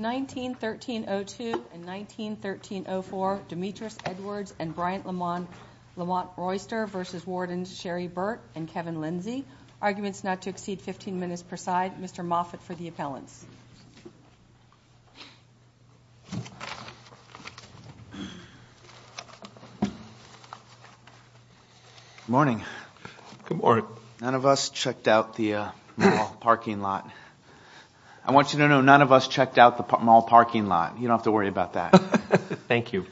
1913-02 and 1913-04, Demetrius Edwards and Bryant Lamont Royster v. Warden Sherry Burt and Kevin Lindsay. Arguments not to exceed 15 minutes per side. Mr. Moffitt for the appellants. Morning. Good morning. None of us checked out the mall parking lot. I want you to know none of us checked out the mall parking lot. You don't have to worry about that. Thank you.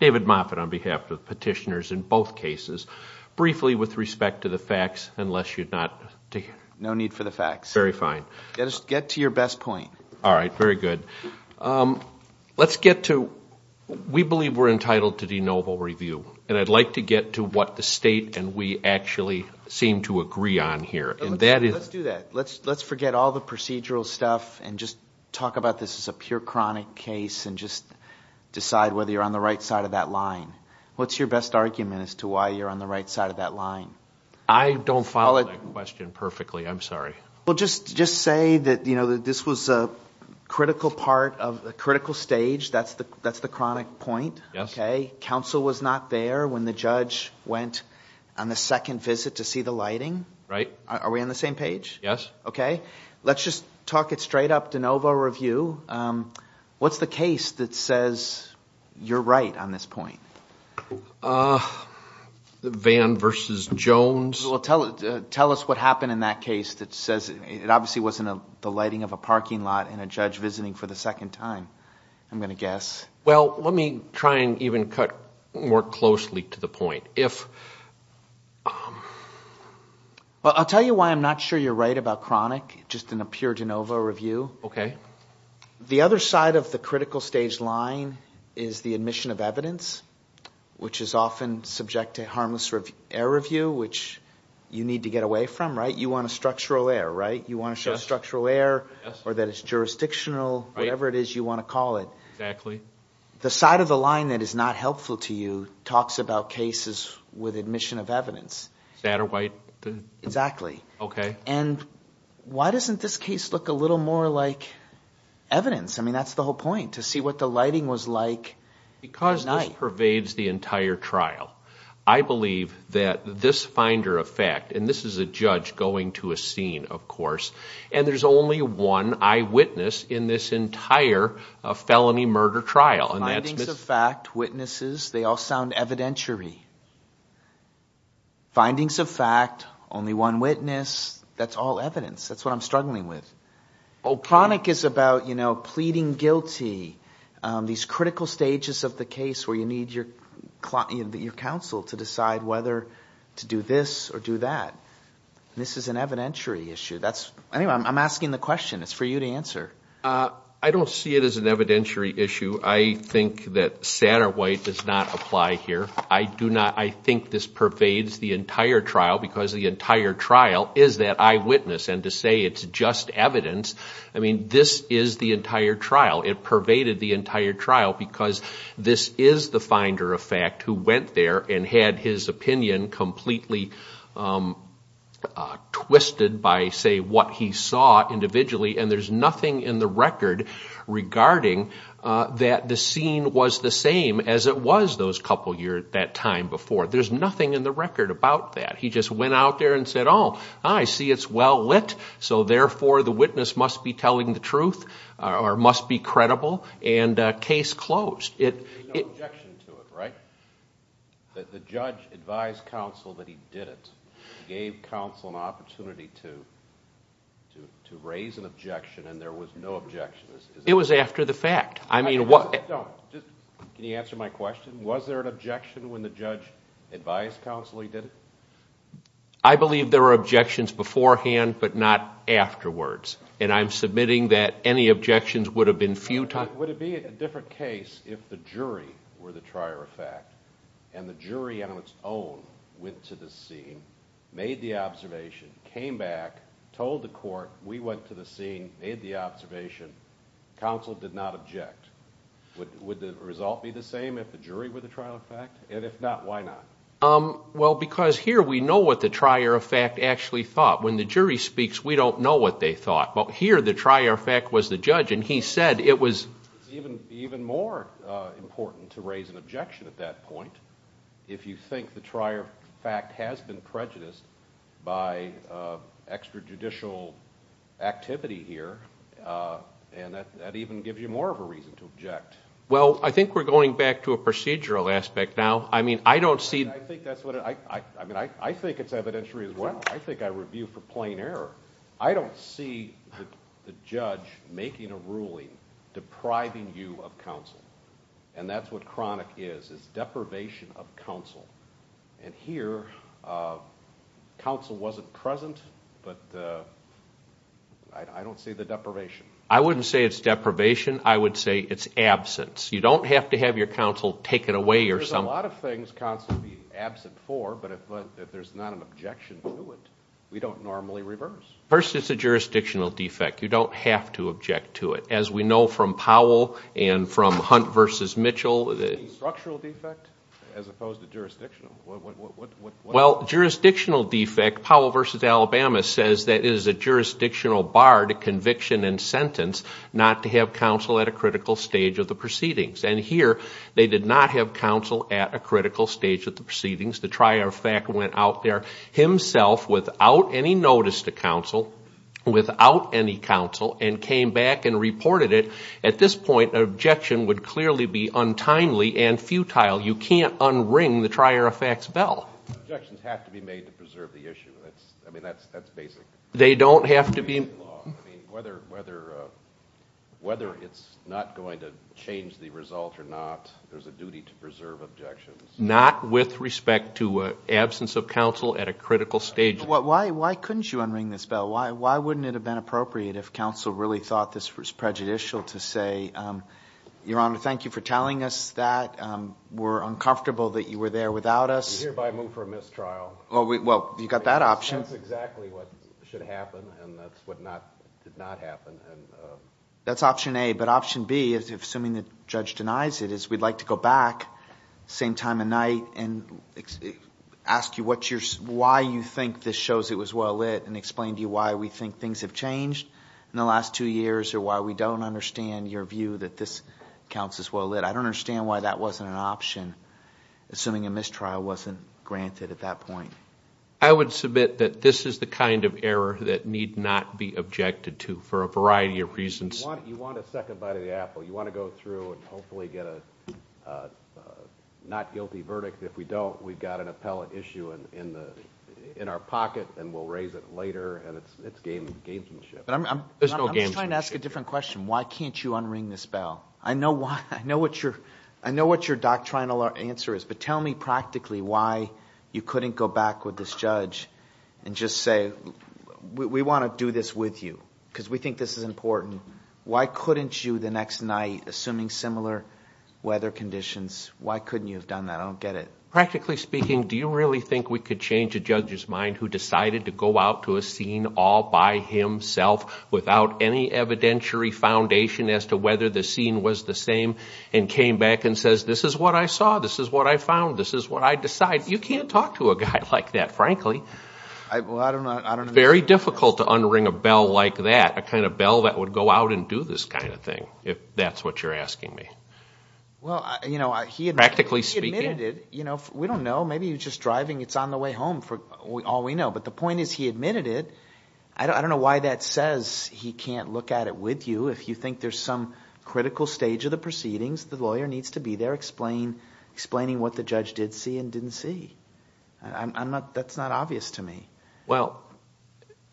David Moffitt on behalf of the petitioners in both cases. Briefly with respect to the facts, unless you'd not... No need for the facts. Very fine. Just get to your best point. All right, very good. Let's get to, we believe we're entitled to de novo review. And I'd like to get to what the state and we actually seem to agree on here. And that is... Let's do that. Let's forget all the procedural stuff and just talk about this as a pure chronic case and just decide whether you're on the right side of that line. What's your best argument as to why you're on the right side of that line? I don't follow that question perfectly. I'm sorry. Well, just say that this was a critical part of a critical stage. That's the chronic point. Yes. Counsel was not there when the judge went on the second visit to see the lighting. Right. Are we on the same page? Yes. Okay. Let's just talk it straight up, de novo review. What's the case that says you're right on this point? Van versus Jones. Well, tell us what happened in that case that says it obviously wasn't the lighting of a parking lot and a judge visiting for the second time. I'm going to guess. Well, let me try and even cut more closely to the point. If... Well, I'll tell you why I'm not sure you're right about chronic, just in a pure de novo review. Okay. The other side of the critical stage line is the admission of evidence, which is often subject to harmless error review, which you need to get away from, right? You want a structural error, right? You want to show structural error or that it's jurisdictional, whatever it is you want to call it. Exactly. The side of the line that is not helpful to you talks about cases with admission of evidence. Satterwhite? Exactly. Okay. And why doesn't this case look a little more like evidence? I mean, that's the whole point, to see what the lighting was like at night. Because this pervades the entire trial. I believe that this finder of fact, and this is a judge going to a scene, of course, and there's only one eyewitness in this entire felony murder trial. And that's... Findings of fact, witnesses, they all sound evidentiary. Findings of fact, only one witness, that's all evidence. That's what I'm struggling with. Oh, chronic is about pleading guilty, these critical stages of the case where you need your counsel to decide whether to do this or do that. This is an evidentiary issue. Anyway, I'm asking the question. It's for you to answer. I don't see it as an evidentiary issue. I think that Satterwhite does not apply here. I do not... I think this pervades the entire trial because the entire trial is that eyewitness. And to say it's just evidence, I mean, this is the entire trial. It pervaded the entire trial because this is the finder of fact who went there and had his opinion completely twisted by, say, what he saw individually. And there's nothing in the record regarding that the scene was the same as it was those couple years, that time before. There's nothing in the record about that. He just went out there and said, oh, I see it's well lit. So therefore, the witness must be telling the truth or must be credible. And case closed. There's no objection to it, right? That the judge advised counsel that he did it. Gave counsel an opportunity to raise an objection and there was no objection. It was after the fact. I mean, what... Don't, just... Can you answer my question? Was there an objection when the judge advised counsel he did it? I believe there were objections beforehand, but not afterwards. And I'm submitting that any objections would have been futile. Would it be a different case if the jury were the trier of fact and the jury on its own went to the scene, made the observation, came back, told the court, we went to the scene, made the observation, counsel did not object? Would the result be the same if the jury were the trier of fact? And if not, why not? Well, because here we know what the trier of fact actually thought. When the jury speaks, we don't know what they thought. But here, the trier of fact was the judge and he said it was... Even more important to raise an objection at that point. If you think the trier of fact has been prejudiced by extrajudicial activity here, and that even gives you more of a reason to object. Well, I think we're going back to a procedural aspect now. I mean, I don't see... I think that's what... I mean, I think it's evidentiary as well. I think I review for plain error. I don't see the judge making a ruling depriving you of counsel. And that's what chronic is, is deprivation of counsel. And here, counsel wasn't present, but I don't see the deprivation. I wouldn't say it's deprivation. I would say it's absence. You don't have to have your counsel take it away or something. There's a lot of things counsel would be absent for, but if there's not an objection to it, we don't normally reverse. First, it's a jurisdictional defect. You don't have to object to it. As we know from Powell and from Hunt versus Mitchell... Structural defect as opposed to jurisdictional. What... Well, jurisdictional defect, Powell versus Alabama says that is a jurisdictional bar to conviction and sentence, not to have counsel at a critical stage of the proceedings. And here, they did not have counsel at a critical stage of the proceedings. The trier of fact went out there himself without any notice to counsel, without any counsel, and came back and reported it. At this point, an objection would clearly be untimely and futile. You can't unring the trier of fact's bell. Objections have to be made to preserve the issue. I mean, that's basic. They don't have to be... Whether it's not going to change the result or not, there's a duty to preserve objections. Not with respect to absence of counsel at a critical stage. Why couldn't you unring this bell? Why wouldn't it have been appropriate if counsel really thought this was prejudicial to say, Your Honor, thank you for telling us that. We're uncomfortable that you were there without us. We hereby move for a mistrial. Well, you got that option. That's exactly what should happen, and that's what did not happen. That's option A. But option B, assuming the judge denies it, is we'd like to go back, same time of night, and ask you why you think this shows it was well lit, and explain to you why we think things have changed in the last two years, or why we don't understand your view that this counts as well lit. I don't understand why that wasn't an option, assuming a mistrial wasn't granted at that point. I would submit that this is the kind of error that need not be objected to for a variety of reasons. You want a second bite of the apple. You want to go through and hopefully get a not guilty verdict. If we don't, we've got an appellate issue in our pocket, and we'll raise it later. And it's gamesmanship. There's no gamesmanship here. I'm just trying to ask a different question. Why can't you unring this bell? I know what your doctrinal answer is, but tell me practically why you couldn't go back with this judge and just say, we want to do this with you, because we think this is important. Why couldn't you the next night, assuming similar weather conditions, why couldn't you have done that? I don't get it. Practically speaking, do you really think we could change a judge's mind who decided to go out to a scene all by himself, without any evidentiary foundation as to whether the scene was the same, and came back and says, this is what I saw. This is what I found. This is what I decided. You can't talk to a guy like that, frankly. Very difficult to unring a bell like that. A kind of bell that would go out and do this kind of thing, if that's what you're asking me. Well, you know, he admitted it. We don't know. Maybe he was just driving. It's on the way home, for all we know. But the point is, he admitted it. I don't know why that says he can't look at it with you. If you think there's some critical stage of the proceedings, the lawyer needs to be there explaining what the judge did see and didn't see. That's not obvious to me. Well,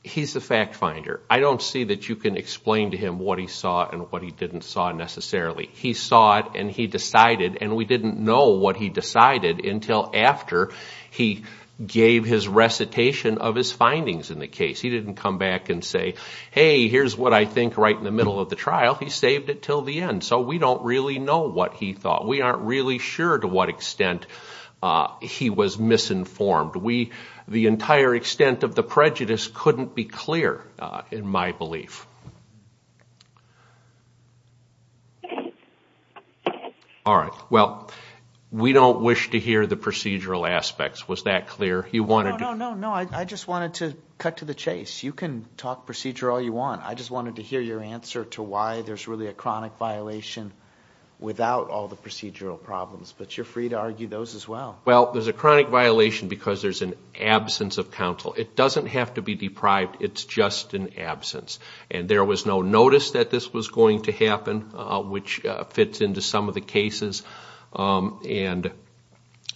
he's a fact finder. I don't see that you can explain to him what he saw and what he didn't saw, necessarily. He saw it, and he decided. And we didn't know what he decided until after he gave his recitation of his findings in the case. He didn't come back and say, hey, here's what I think right in the middle of the trial. He saved it till the end. So we don't really know what he thought. We aren't really sure to what extent he was misinformed. The entire extent of the prejudice couldn't be clear, in my belief. All right, well, we don't wish to hear the procedural aspects. Was that clear? He wanted to- No, no, no, no. I just wanted to cut to the chase. You can talk procedure all you want. I just wanted to hear your answer to why there's really a chronic violation without all the procedural problems. But you're free to argue those as well. Well, there's a chronic violation because there's an absence of counsel. It doesn't have to be deprived. It's just an absence. And there was no notice that this was going to happen, which fits into some of the cases. And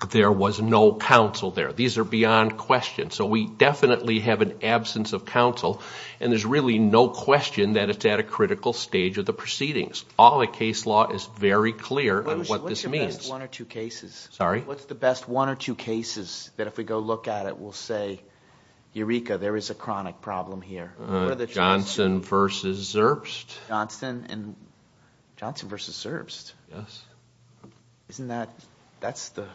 there was no counsel there. These are beyond question. So we definitely have an absence of counsel. And there's really no question that it's at a critical stage of the proceedings. All the case law is very clear on what this means. What's the best one or two cases? Sorry? What's the best one or two cases that if we go look at it, we'll say, Eureka, there is a chronic problem here? Johnson versus Zerbst. Johnson and, Johnson versus Zerbst. Isn't that, that's a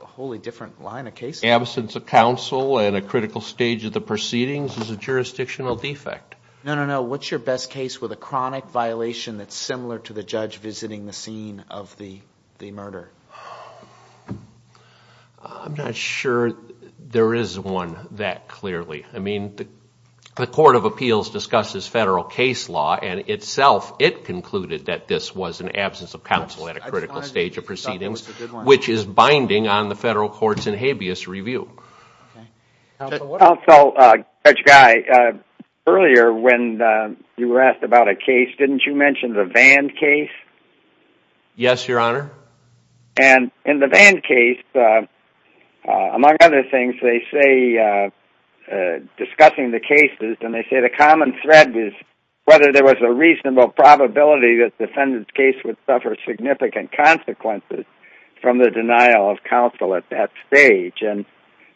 wholly different line of case law. The absence of counsel and a critical stage of the proceedings is a jurisdictional defect. No, no, no. What's your best case with a chronic violation that's similar to the judge visiting the scene of the murder? I'm not sure there is one that clearly. I mean, the Court of Appeals discusses federal case law and itself it concluded that this was an absence of counsel at a critical stage of proceedings. Which is binding on the federal courts in habeas review. Also, Judge Guy, earlier when you were asked about a case, didn't you mention the Vann case? Yes, Your Honor. And in the Vann case, among other things, they say, discussing the cases, and they say the common thread is whether there was a reasonable probability that the defendant's case would suffer significant consequences. From the denial of counsel at that stage. And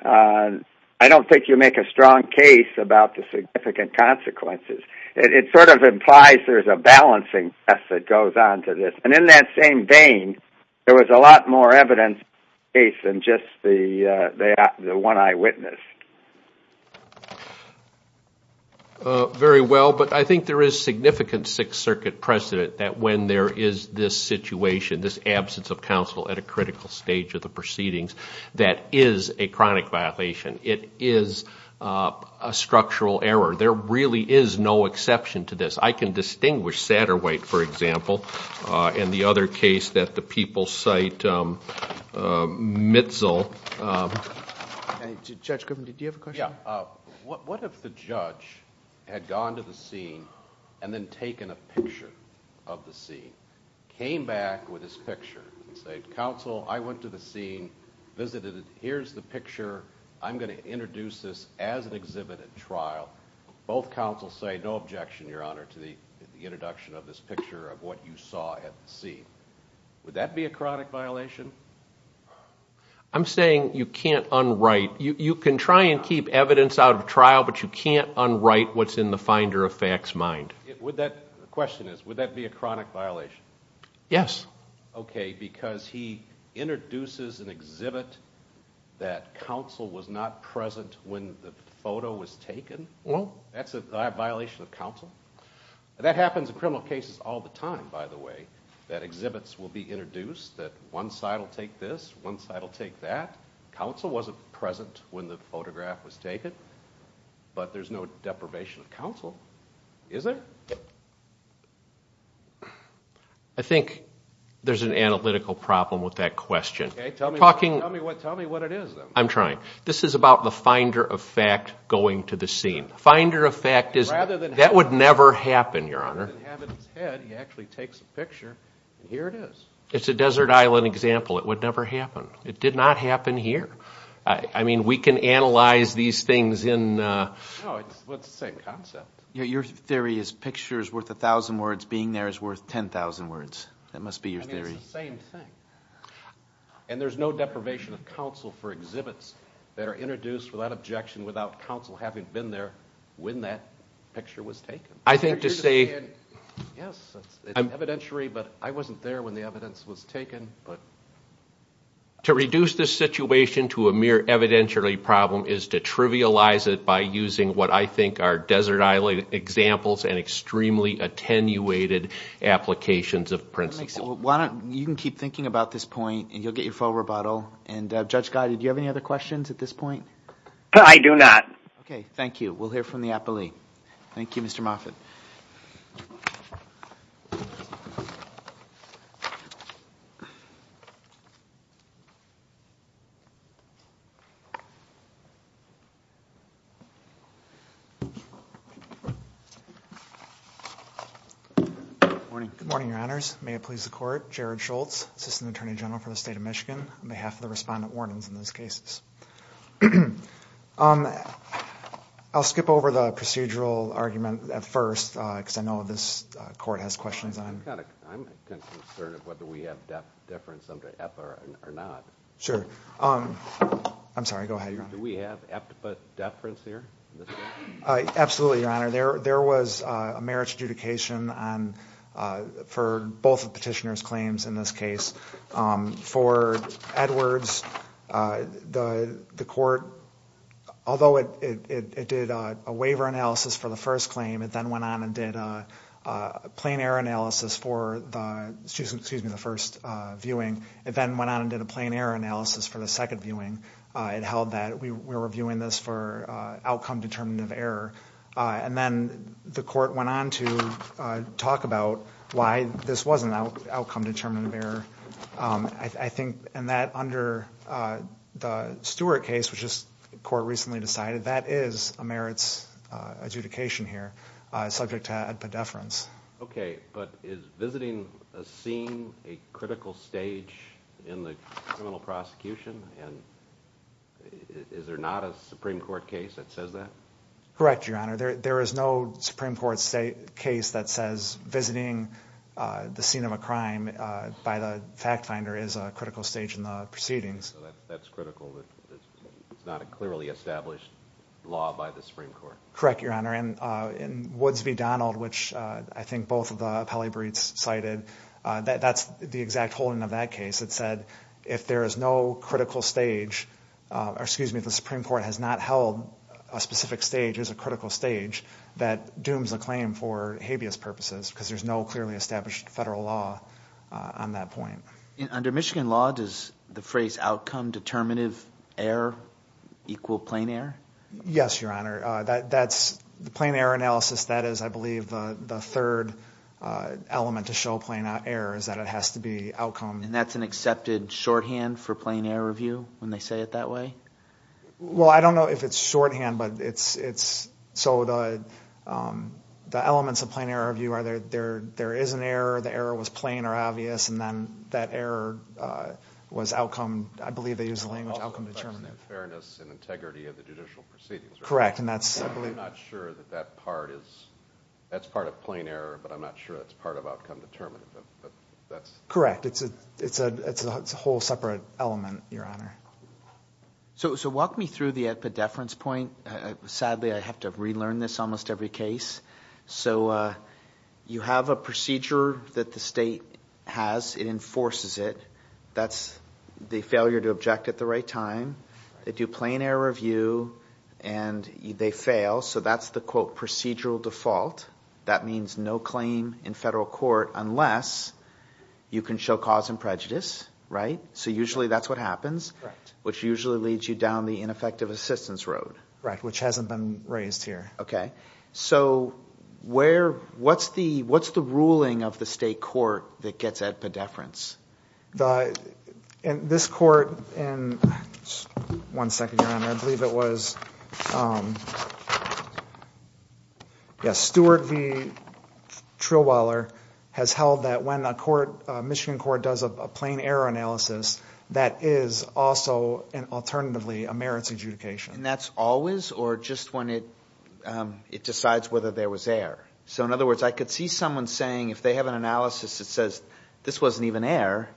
I don't think you make a strong case about the significant consequences. It sort of implies there's a balancing act that goes on to this. And in that same vein, there was a lot more evidence in the case than just the one I witnessed. Very well, but I think there is significant Sixth Circuit precedent that when there is this situation, this absence of counsel at a critical stage of the proceedings, that is a chronic violation. It is a structural error. There really is no exception to this. I can distinguish Satterwhite, for example, and the other case that the people cite, Mitzel. Judge Griffin, did you have a question? Yeah, what if the judge had gone to the scene and then taken a picture of the scene? Came back with his picture and said, counsel, I went to the scene, visited it. Here's the picture. I'm going to introduce this as an exhibit at trial. Both counsels say no objection, your honor, to the introduction of this picture of what you saw at the scene. Would that be a chronic violation? I'm saying you can't unwrite. You can try and keep evidence out of trial, but you can't unwrite what's in the finder of facts mind. The question is, would that be a chronic violation? Yes. Okay, because he introduces an exhibit that counsel was not present when the photo was taken? That's a violation of counsel? That happens in criminal cases all the time, by the way, that exhibits will be introduced, that one side will take this, one side will take that. Counsel wasn't present when the photograph was taken, but there's no deprivation of counsel, is there? I think there's an analytical problem with that question. Okay, tell me what it is, then. I'm trying. This is about the finder of fact going to the scene. Finder of fact is that would never happen, your honor. Rather than have it in his head, he actually takes a picture, and here it is. It's a desert island example. It would never happen. It did not happen here. I mean, we can analyze these things in... No, it's the same concept. Your theory is picture is worth a thousand words, being there is worth 10,000 words. That must be your theory. I mean, it's the same thing. And there's no deprivation of counsel for exhibits that are introduced without objection, without counsel having been there when that picture was taken. I think to say... Yes, it's evidentiary, but I wasn't there when the evidence was taken, but... To reduce this situation to a mere evidentiary problem is to trivialize it by using what I examples and extremely attenuated applications of principles. You can keep thinking about this point, and you'll get your full rebuttal. And Judge Guy, did you have any other questions at this point? I do not. Okay. Thank you. We'll hear from the appellee. Thank you, Mr. Moffitt. Good morning, Your Honors. May it please the court. Jared Schultz, Assistant Attorney General for the State of Michigan, on behalf of the respondent wardens in those cases. I'll skip over the procedural argument at first, because I know this court has questions on... I'm concerned of whether we have deference under F or not. Sure. I'm sorry, go ahead, Your Honor. Do we have F to put deference here? Absolutely, Your Honor. There was a marriage adjudication for both the petitioner's claims in this case. For Edwards, the court, although it did a waiver analysis for the first claim, it then went on and did a plain error analysis for the first viewing. It then went on and did a plain error analysis for the second viewing. It held that we were viewing this for outcome-determinative error. And then the court went on to talk about why this wasn't outcome-determinative error. And that, under the Stewart case, which the court recently decided, that is a merits adjudication here, subject to a deference. Okay, but is visiting a scene a critical stage in the criminal prosecution? And is there not a Supreme Court case that says that? Correct, Your Honor. There is no Supreme Court case that says visiting the scene of a crime by the fact finder is a critical stage in the proceedings. So that's critical that it's not a clearly established law by the Supreme Court? Correct, Your Honor. And in Woods v. Donald, which I think both of the appellee briefs cited, that's the exact holding of that case. It said if there is no critical stage, or excuse me, if the Supreme Court has not held a specific stage as a critical stage, that dooms the claim for habeas purposes because there's no clearly established federal law on that point. Under Michigan law, does the phrase outcome-determinative error equal plain error? Yes, Your Honor. The plain error analysis, that is, I believe, the third element to show plain error is that it has to be outcome- And that's an accepted shorthand for plain error review when they say it that way? Well, I don't know if it's shorthand, but it's- So the elements of plain error review are there is an error, the error was plain or obvious, and then that error was outcome- I believe they use the language outcome-determinative. It also affects the fairness and integrity of the judicial proceedings, right? Correct, and that's- I'm not sure that that part is- that's part of plain error, but I'm not sure that's part of outcome-determinative, but that's- Correct, it's a whole separate element, Your Honor. So walk me through the pedeference point. Sadly, I have to relearn this almost every case. So you have a procedure that the state has. It enforces it. That's the failure to object at the right time. They do plain error review, and they fail. So that's the, quote, procedural default. That means no claim in federal court unless you can show cause and prejudice, right? So usually that's what happens- Correct. Which usually leads you down the ineffective assistance road. Right, which hasn't been raised here. Okay, so where- what's the- what's the ruling of the state court that gets at pedeference? In this court, and- one second, Your Honor. I believe it was- yes, Stewart v. Trillweiler has held that when a court- a Michigan court does a plain error analysis, that is also, alternatively, a merits adjudication. And that's always, or just when it- it decides whether there was error? So in other words, I could see someone saying, if they have an analysis that says, this wasn't even error,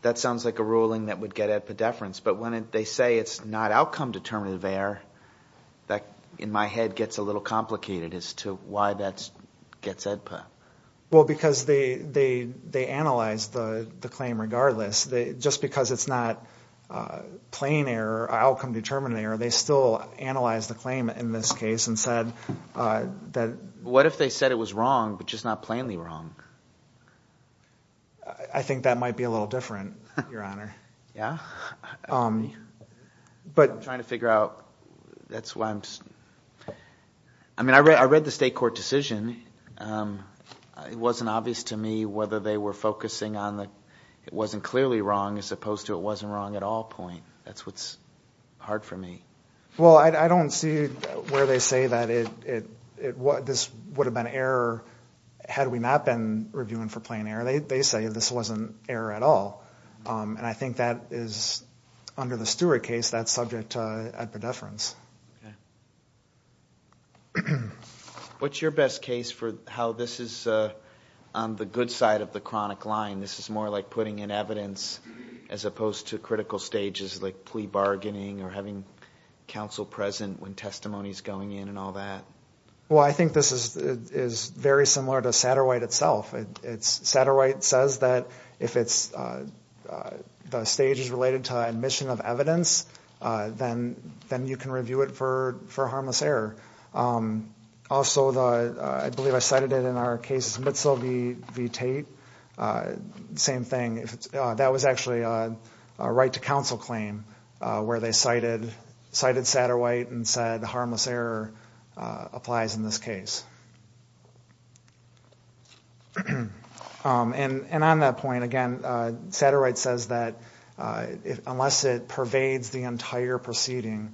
that sounds like a ruling that would get at pedeference. But when they say it's not outcome-determinative error, that, in my head, gets a little complicated as to why that gets at pedeference. Well, because they analyze the claim regardless. Just because it's not plain error, outcome-determinative error, they still analyze the claim, in this case, and said that- What if they said it was wrong, but just not plainly wrong? I think that might be a little different, Your Honor. Yeah, I'm trying to figure out- that's why I'm- I mean, I read the state court decision, it wasn't obvious to me whether they were focusing on the, it wasn't clearly wrong, as opposed to it wasn't wrong at all point. That's what's hard for me. Well, I don't see where they say that it- this would have been error, had we not been reviewing for plain error. They say this wasn't error at all. And I think that is, under the Stewart case, that's subject to- at pedeference. Okay. What's your best case for how this is on the good side of the chronic line? This is more like putting in evidence, as opposed to critical stages like plea bargaining, or having counsel present when testimony is going in, and all that? Well, I think this is very similar to Satterwhite itself. It's- Satterwhite says that if it's- the stage is related to admission of evidence, then you can review it for harmless error. Also, the- I believe I cited it in our case, Mitzel v. Tate, same thing. That was actually a right to counsel claim, where they cited Satterwhite and said harmless error applies in this case. And on that point, again, Satterwhite says that unless it pervades the entire proceeding,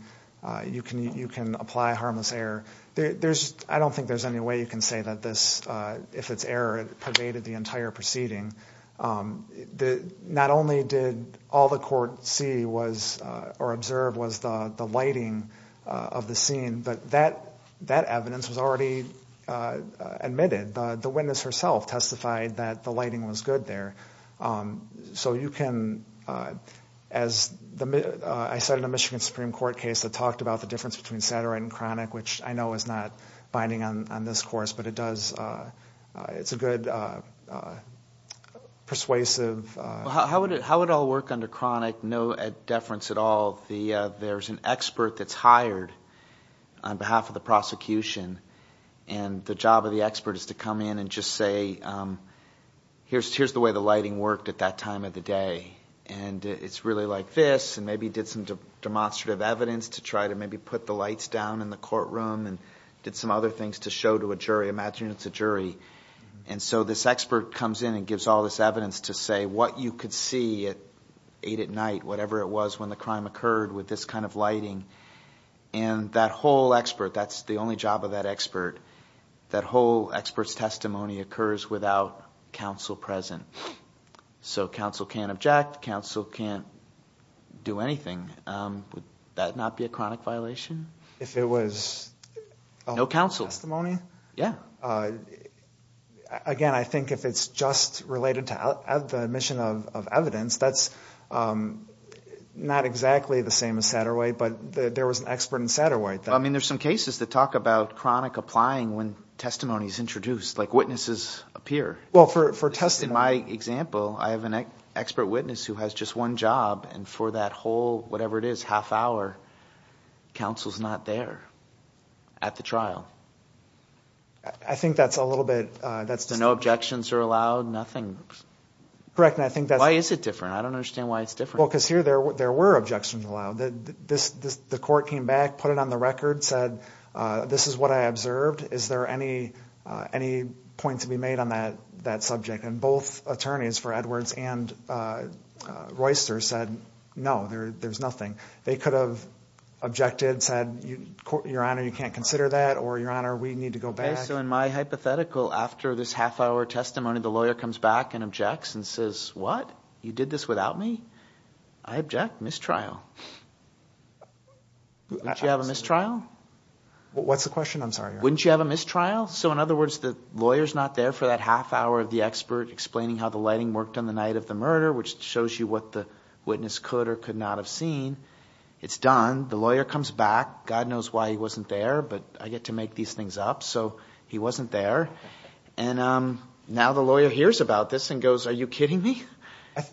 you can apply harmless error. There's- I don't think there's any way you can say that this- if it's error, it pervaded the entire proceeding. The- not only did all the court see was- or observe was the lighting of the scene, but that evidence was already in the case. Admitted, the witness herself testified that the lighting was good there. So you can- as the- I cited a Michigan Supreme Court case that talked about the difference between Satterwhite and Cronic, which I know is not binding on this course, but it does- it's a good persuasive- How would it- how would it all work under Cronic? No deference at all. There's an expert that's hired on behalf of the prosecution, and the job of the expert is to come in and just say, here's the way the lighting worked at that time of the day. And it's really like this, and maybe did some demonstrative evidence to try to maybe put the lights down in the courtroom, and did some other things to show to a jury. Imagine it's a jury. And so this expert comes in and gives all this evidence to say what you could see at eight at night, whatever it was when the crime occurred with this kind of lighting. And that whole expert, that's the only job of that expert, that whole expert's testimony occurs without counsel present. So counsel can't object, counsel can't do anything. Would that not be a Cronic violation? If it was- No counsel. Testimony? Yeah. Again, I think if it's just related to the mission of evidence, that's not exactly the same as Satterwhite, but there was an expert in Satterwhite. I mean, there's some cases that talk about chronic applying when testimony is introduced, like witnesses appear. Well, for testing- In my example, I have an expert witness who has just one job, and for that whole, whatever it is, half hour, counsel's not there at the trial. I think that's a little bit, that's just- Correct, and I think that's- Why is it different? I don't understand why it's different. Well, because here there were objections allowed. The court came back, put it on the record, said, this is what I observed. Is there any point to be made on that subject? And both attorneys for Edwards and Royster said, no, there's nothing. They could have objected, said, your honor, you can't consider that, or your honor, we need to go back. And so in my hypothetical, after this half hour testimony, the lawyer comes back and objects and says, what? You did this without me? I object, mistrial. Wouldn't you have a mistrial? What's the question? I'm sorry, your honor. Wouldn't you have a mistrial? So in other words, the lawyer's not there for that half hour of the expert explaining how the lighting worked on the night of the murder, which shows you what the witness could or could not have seen. It's done. The lawyer comes back. God knows why he wasn't there, but I get to make these things up, so he wasn't there. And now the lawyer hears about this and goes, are you kidding me?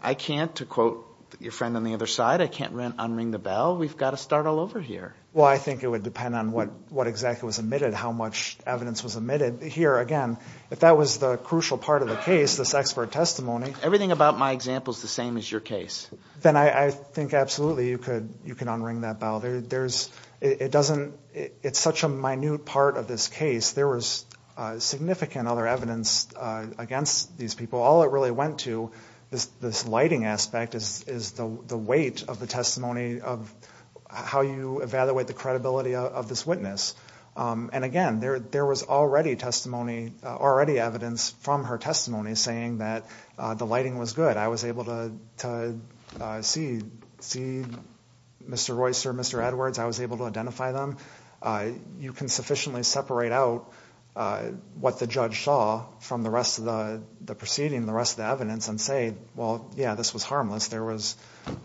I can't, to quote your friend on the other side, I can't unring the bell. We've got to start all over here. Well, I think it would depend on what exactly was omitted, how much evidence was omitted. Here, again, if that was the crucial part of the case, this expert testimony. Everything about my example is the same as your case. Then I think absolutely you could unring that bell. It's such a minute part of this case. There was significant other evidence against these people. All it really went to, this lighting aspect, is the weight of the testimony of how you evaluate the credibility of this witness. And again, there was already testimony, already evidence from her testimony saying that the lighting was good. I was able to see Mr. Royster, Mr. Edwards. I was able to identify them. You can sufficiently separate out what the judge saw from the rest of the proceeding, the rest of the evidence, and say, well, yeah, this was harmless. There was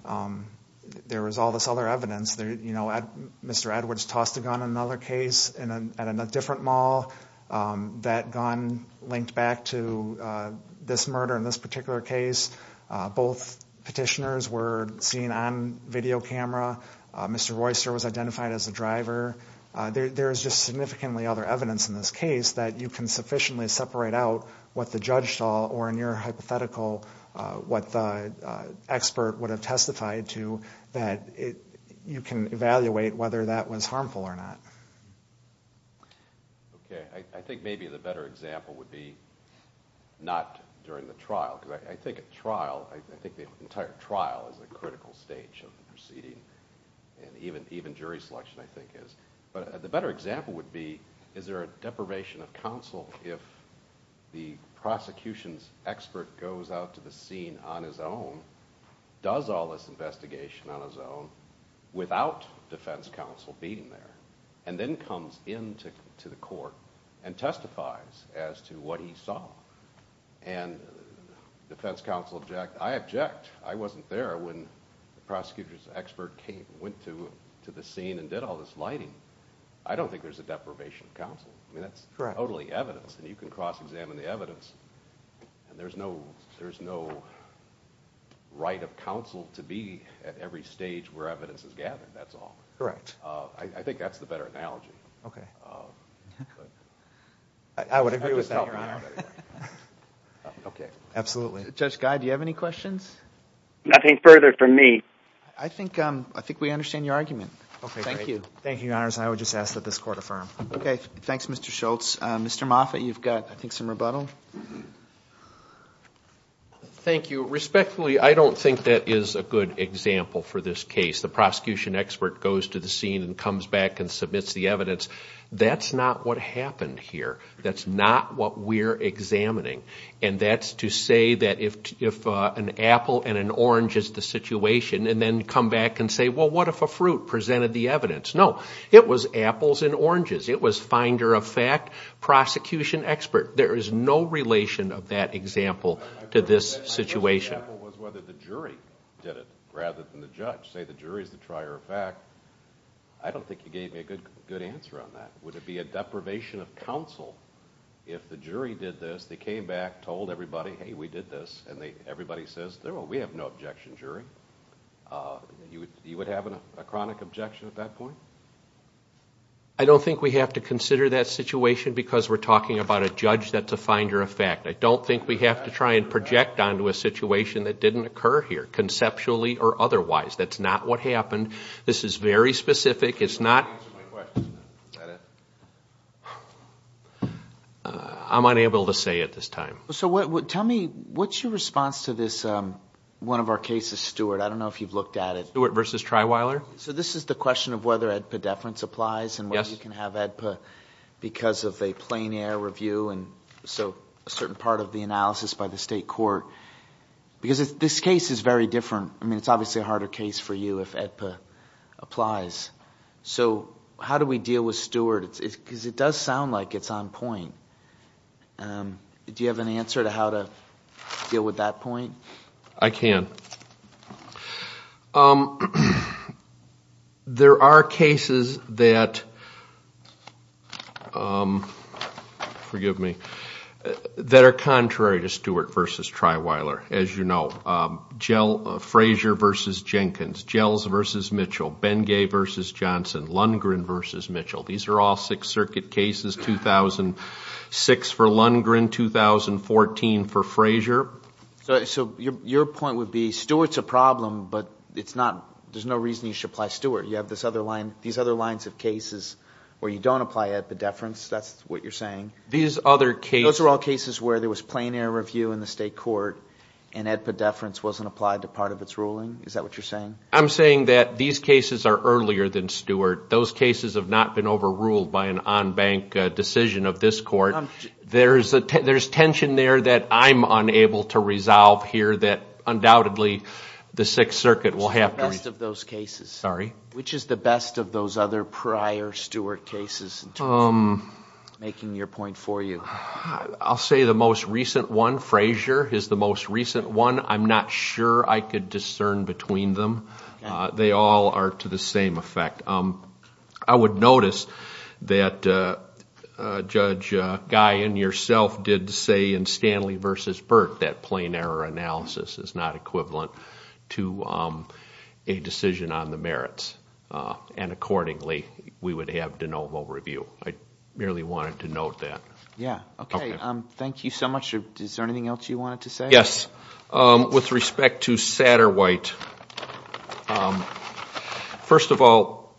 all this other evidence. Mr. Edwards tossed a gun in another case at a different mall. That gun linked back to this murder in this particular case. Both petitioners were seen on video camera. Mr. Royster was identified as a driver. There is just significantly other evidence in this case that you can sufficiently separate out what the judge saw or, in your hypothetical, what the expert would have testified to that you can evaluate whether that was harmful or not. OK. I think maybe the better example would be not during the trial. I think the entire trial is a critical stage of the proceeding and even jury selection, I think, is. But the better example would be, is there a deprivation of counsel if the prosecution's expert goes out to the scene on his own, does all this investigation on his own without defense counsel being there, and then comes into the court and testifies as to what he thinks, defense counsel object. I object. I wasn't there when the prosecutor's expert came, went to the scene, and did all this lighting. I don't think there's a deprivation of counsel. I mean, that's totally evidence, and you can cross-examine the evidence, and there's no right of counsel to be at every stage where evidence is gathered, that's all. Correct. I think that's the better analogy. OK. I would agree with that, Your Honor. OK. Absolutely. Judge Guy, do you have any questions? Nothing further from me. I think we understand your argument. OK, thank you. Thank you, Your Honors. I would just ask that this court affirm. OK. Thanks, Mr. Schultz. Mr. Moffitt, you've got, I think, some rebuttal. Thank you. Respectfully, I don't think that is a good example for this case. The prosecution expert goes to the scene and comes back and submits the evidence. That's not what happened here. That's not what we're examining. And that's to say that if an apple and an orange is the situation, and then come back and say, well, what if a fruit presented the evidence? No. It was apples and oranges. It was finder of fact, prosecution expert. There is no relation of that example to this situation. I guess the example was whether the jury did it rather than the judge. Say the jury is the trier of fact. I don't think you gave me a good answer on that. Would it be a deprivation of counsel if the jury did this? They came back, told everybody, hey, we did this. And everybody says, we have no objection, jury. You would have a chronic objection at that point? I don't think we have to consider that situation because we're talking about a judge that's a finder of fact. I don't think we have to try and project onto a situation that didn't occur here, conceptually or otherwise. That's not what happened. This is very specific. It's not... Answer my question. Is that it? I'm unable to say at this time. So tell me, what's your response to this, one of our cases, Stewart? I don't know if you've looked at it. Stewart versus Triwiler. So this is the question of whether EDPA deference applies and whether you can have EDPA because of a plein air review and so a certain part of the analysis by the state court. Because this case is very different. I mean, it's obviously a harder case for you if EDPA applies. So how do we deal with Stewart? Because it does sound like it's on point. Do you have an answer to how to deal with that point? I can. There are cases that... Forgive me. That are contrary to Stewart versus Triwiler, as you know. Frazier versus Jenkins. Gels versus Mitchell. Bengay versus Johnson. Lundgren versus Mitchell. These are all Sixth Circuit cases, 2006 for Lundgren, 2014 for Frazier. So your point would be, Stewart's a problem, but there's no reason you should apply Stewart. You have these other lines of cases where you don't apply EDPA deference. That's what you're saying? These other cases... Those are all cases where there was plein air review in the state court and EDPA deference wasn't applied to part of its ruling. Is that what you're saying? I'm saying that these cases are earlier than Stewart. Those cases have not been overruled by an on-bank decision of this court. There's tension there that I'm unable to resolve here that, undoubtedly, the Sixth Circuit will have to... Which is the best of those cases? Sorry? Which is the best of those other prior Stewart cases? Making your point for you. I'll say the most recent one, Frazier, is the most recent one. I'm not sure I could discern between them. They all are to the same effect. I would notice that Judge Guy and yourself did say in Stanley versus Burt that plein air analysis is not equivalent to a decision on the merits. Accordingly, we would have de novo review. I merely wanted to note that. Yeah. Okay. Thank you so much. Is there anything else you wanted to say? Yes. With respect to Satterwhite, first of all,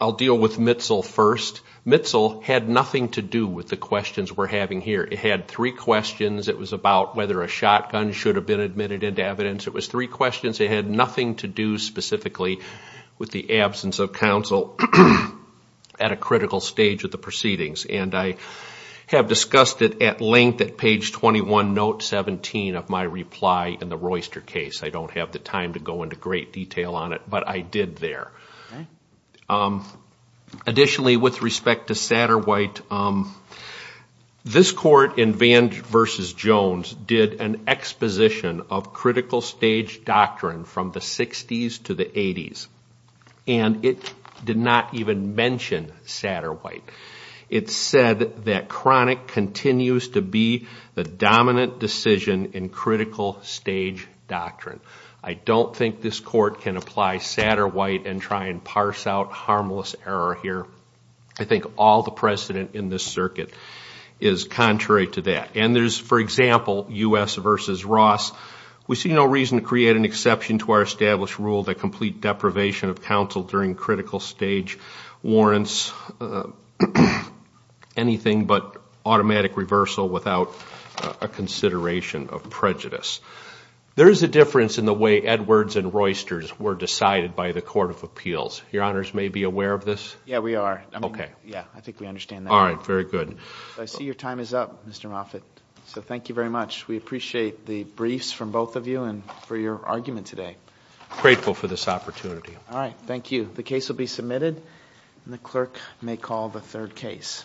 I'll deal with Mitzel first. Mitzel had nothing to do with the questions we're having here. It had three questions. It was about whether a shotgun should have been admitted into evidence. It was three questions. It had nothing to do specifically with the absence of counsel at a critical stage of the proceedings. I have discussed it at length at page 21, note 17 of my reply in the Royster case. I don't have the time to go into great detail on it, but I did there. Additionally, with respect to Satterwhite, this court in Vange versus Jones did an exposition of critical stage doctrine from the 60s to the 80s. It did not even mention Satterwhite. It said that chronic continues to be the dominant decision in critical stage doctrine. I don't think this court can apply Satterwhite and try and parse out harmless error here. I think all the precedent in this circuit is contrary to that. And there's, for example, U.S. versus Ross, we see no reason to create an exception to our established rule that complete deprivation of counsel during critical stage warrants is anything but automatic reversal without a consideration of prejudice. There is a difference in the way Edwards and Roysters were decided by the Court of Appeals. Your honors may be aware of this? Yeah, we are. I think we understand that. All right. Very good. I see your time is up, Mr. Moffitt. So thank you very much. We appreciate the briefs from both of you and for your argument today. Grateful for this opportunity. All right. Thank you. The case will be submitted and the clerk may call the third case.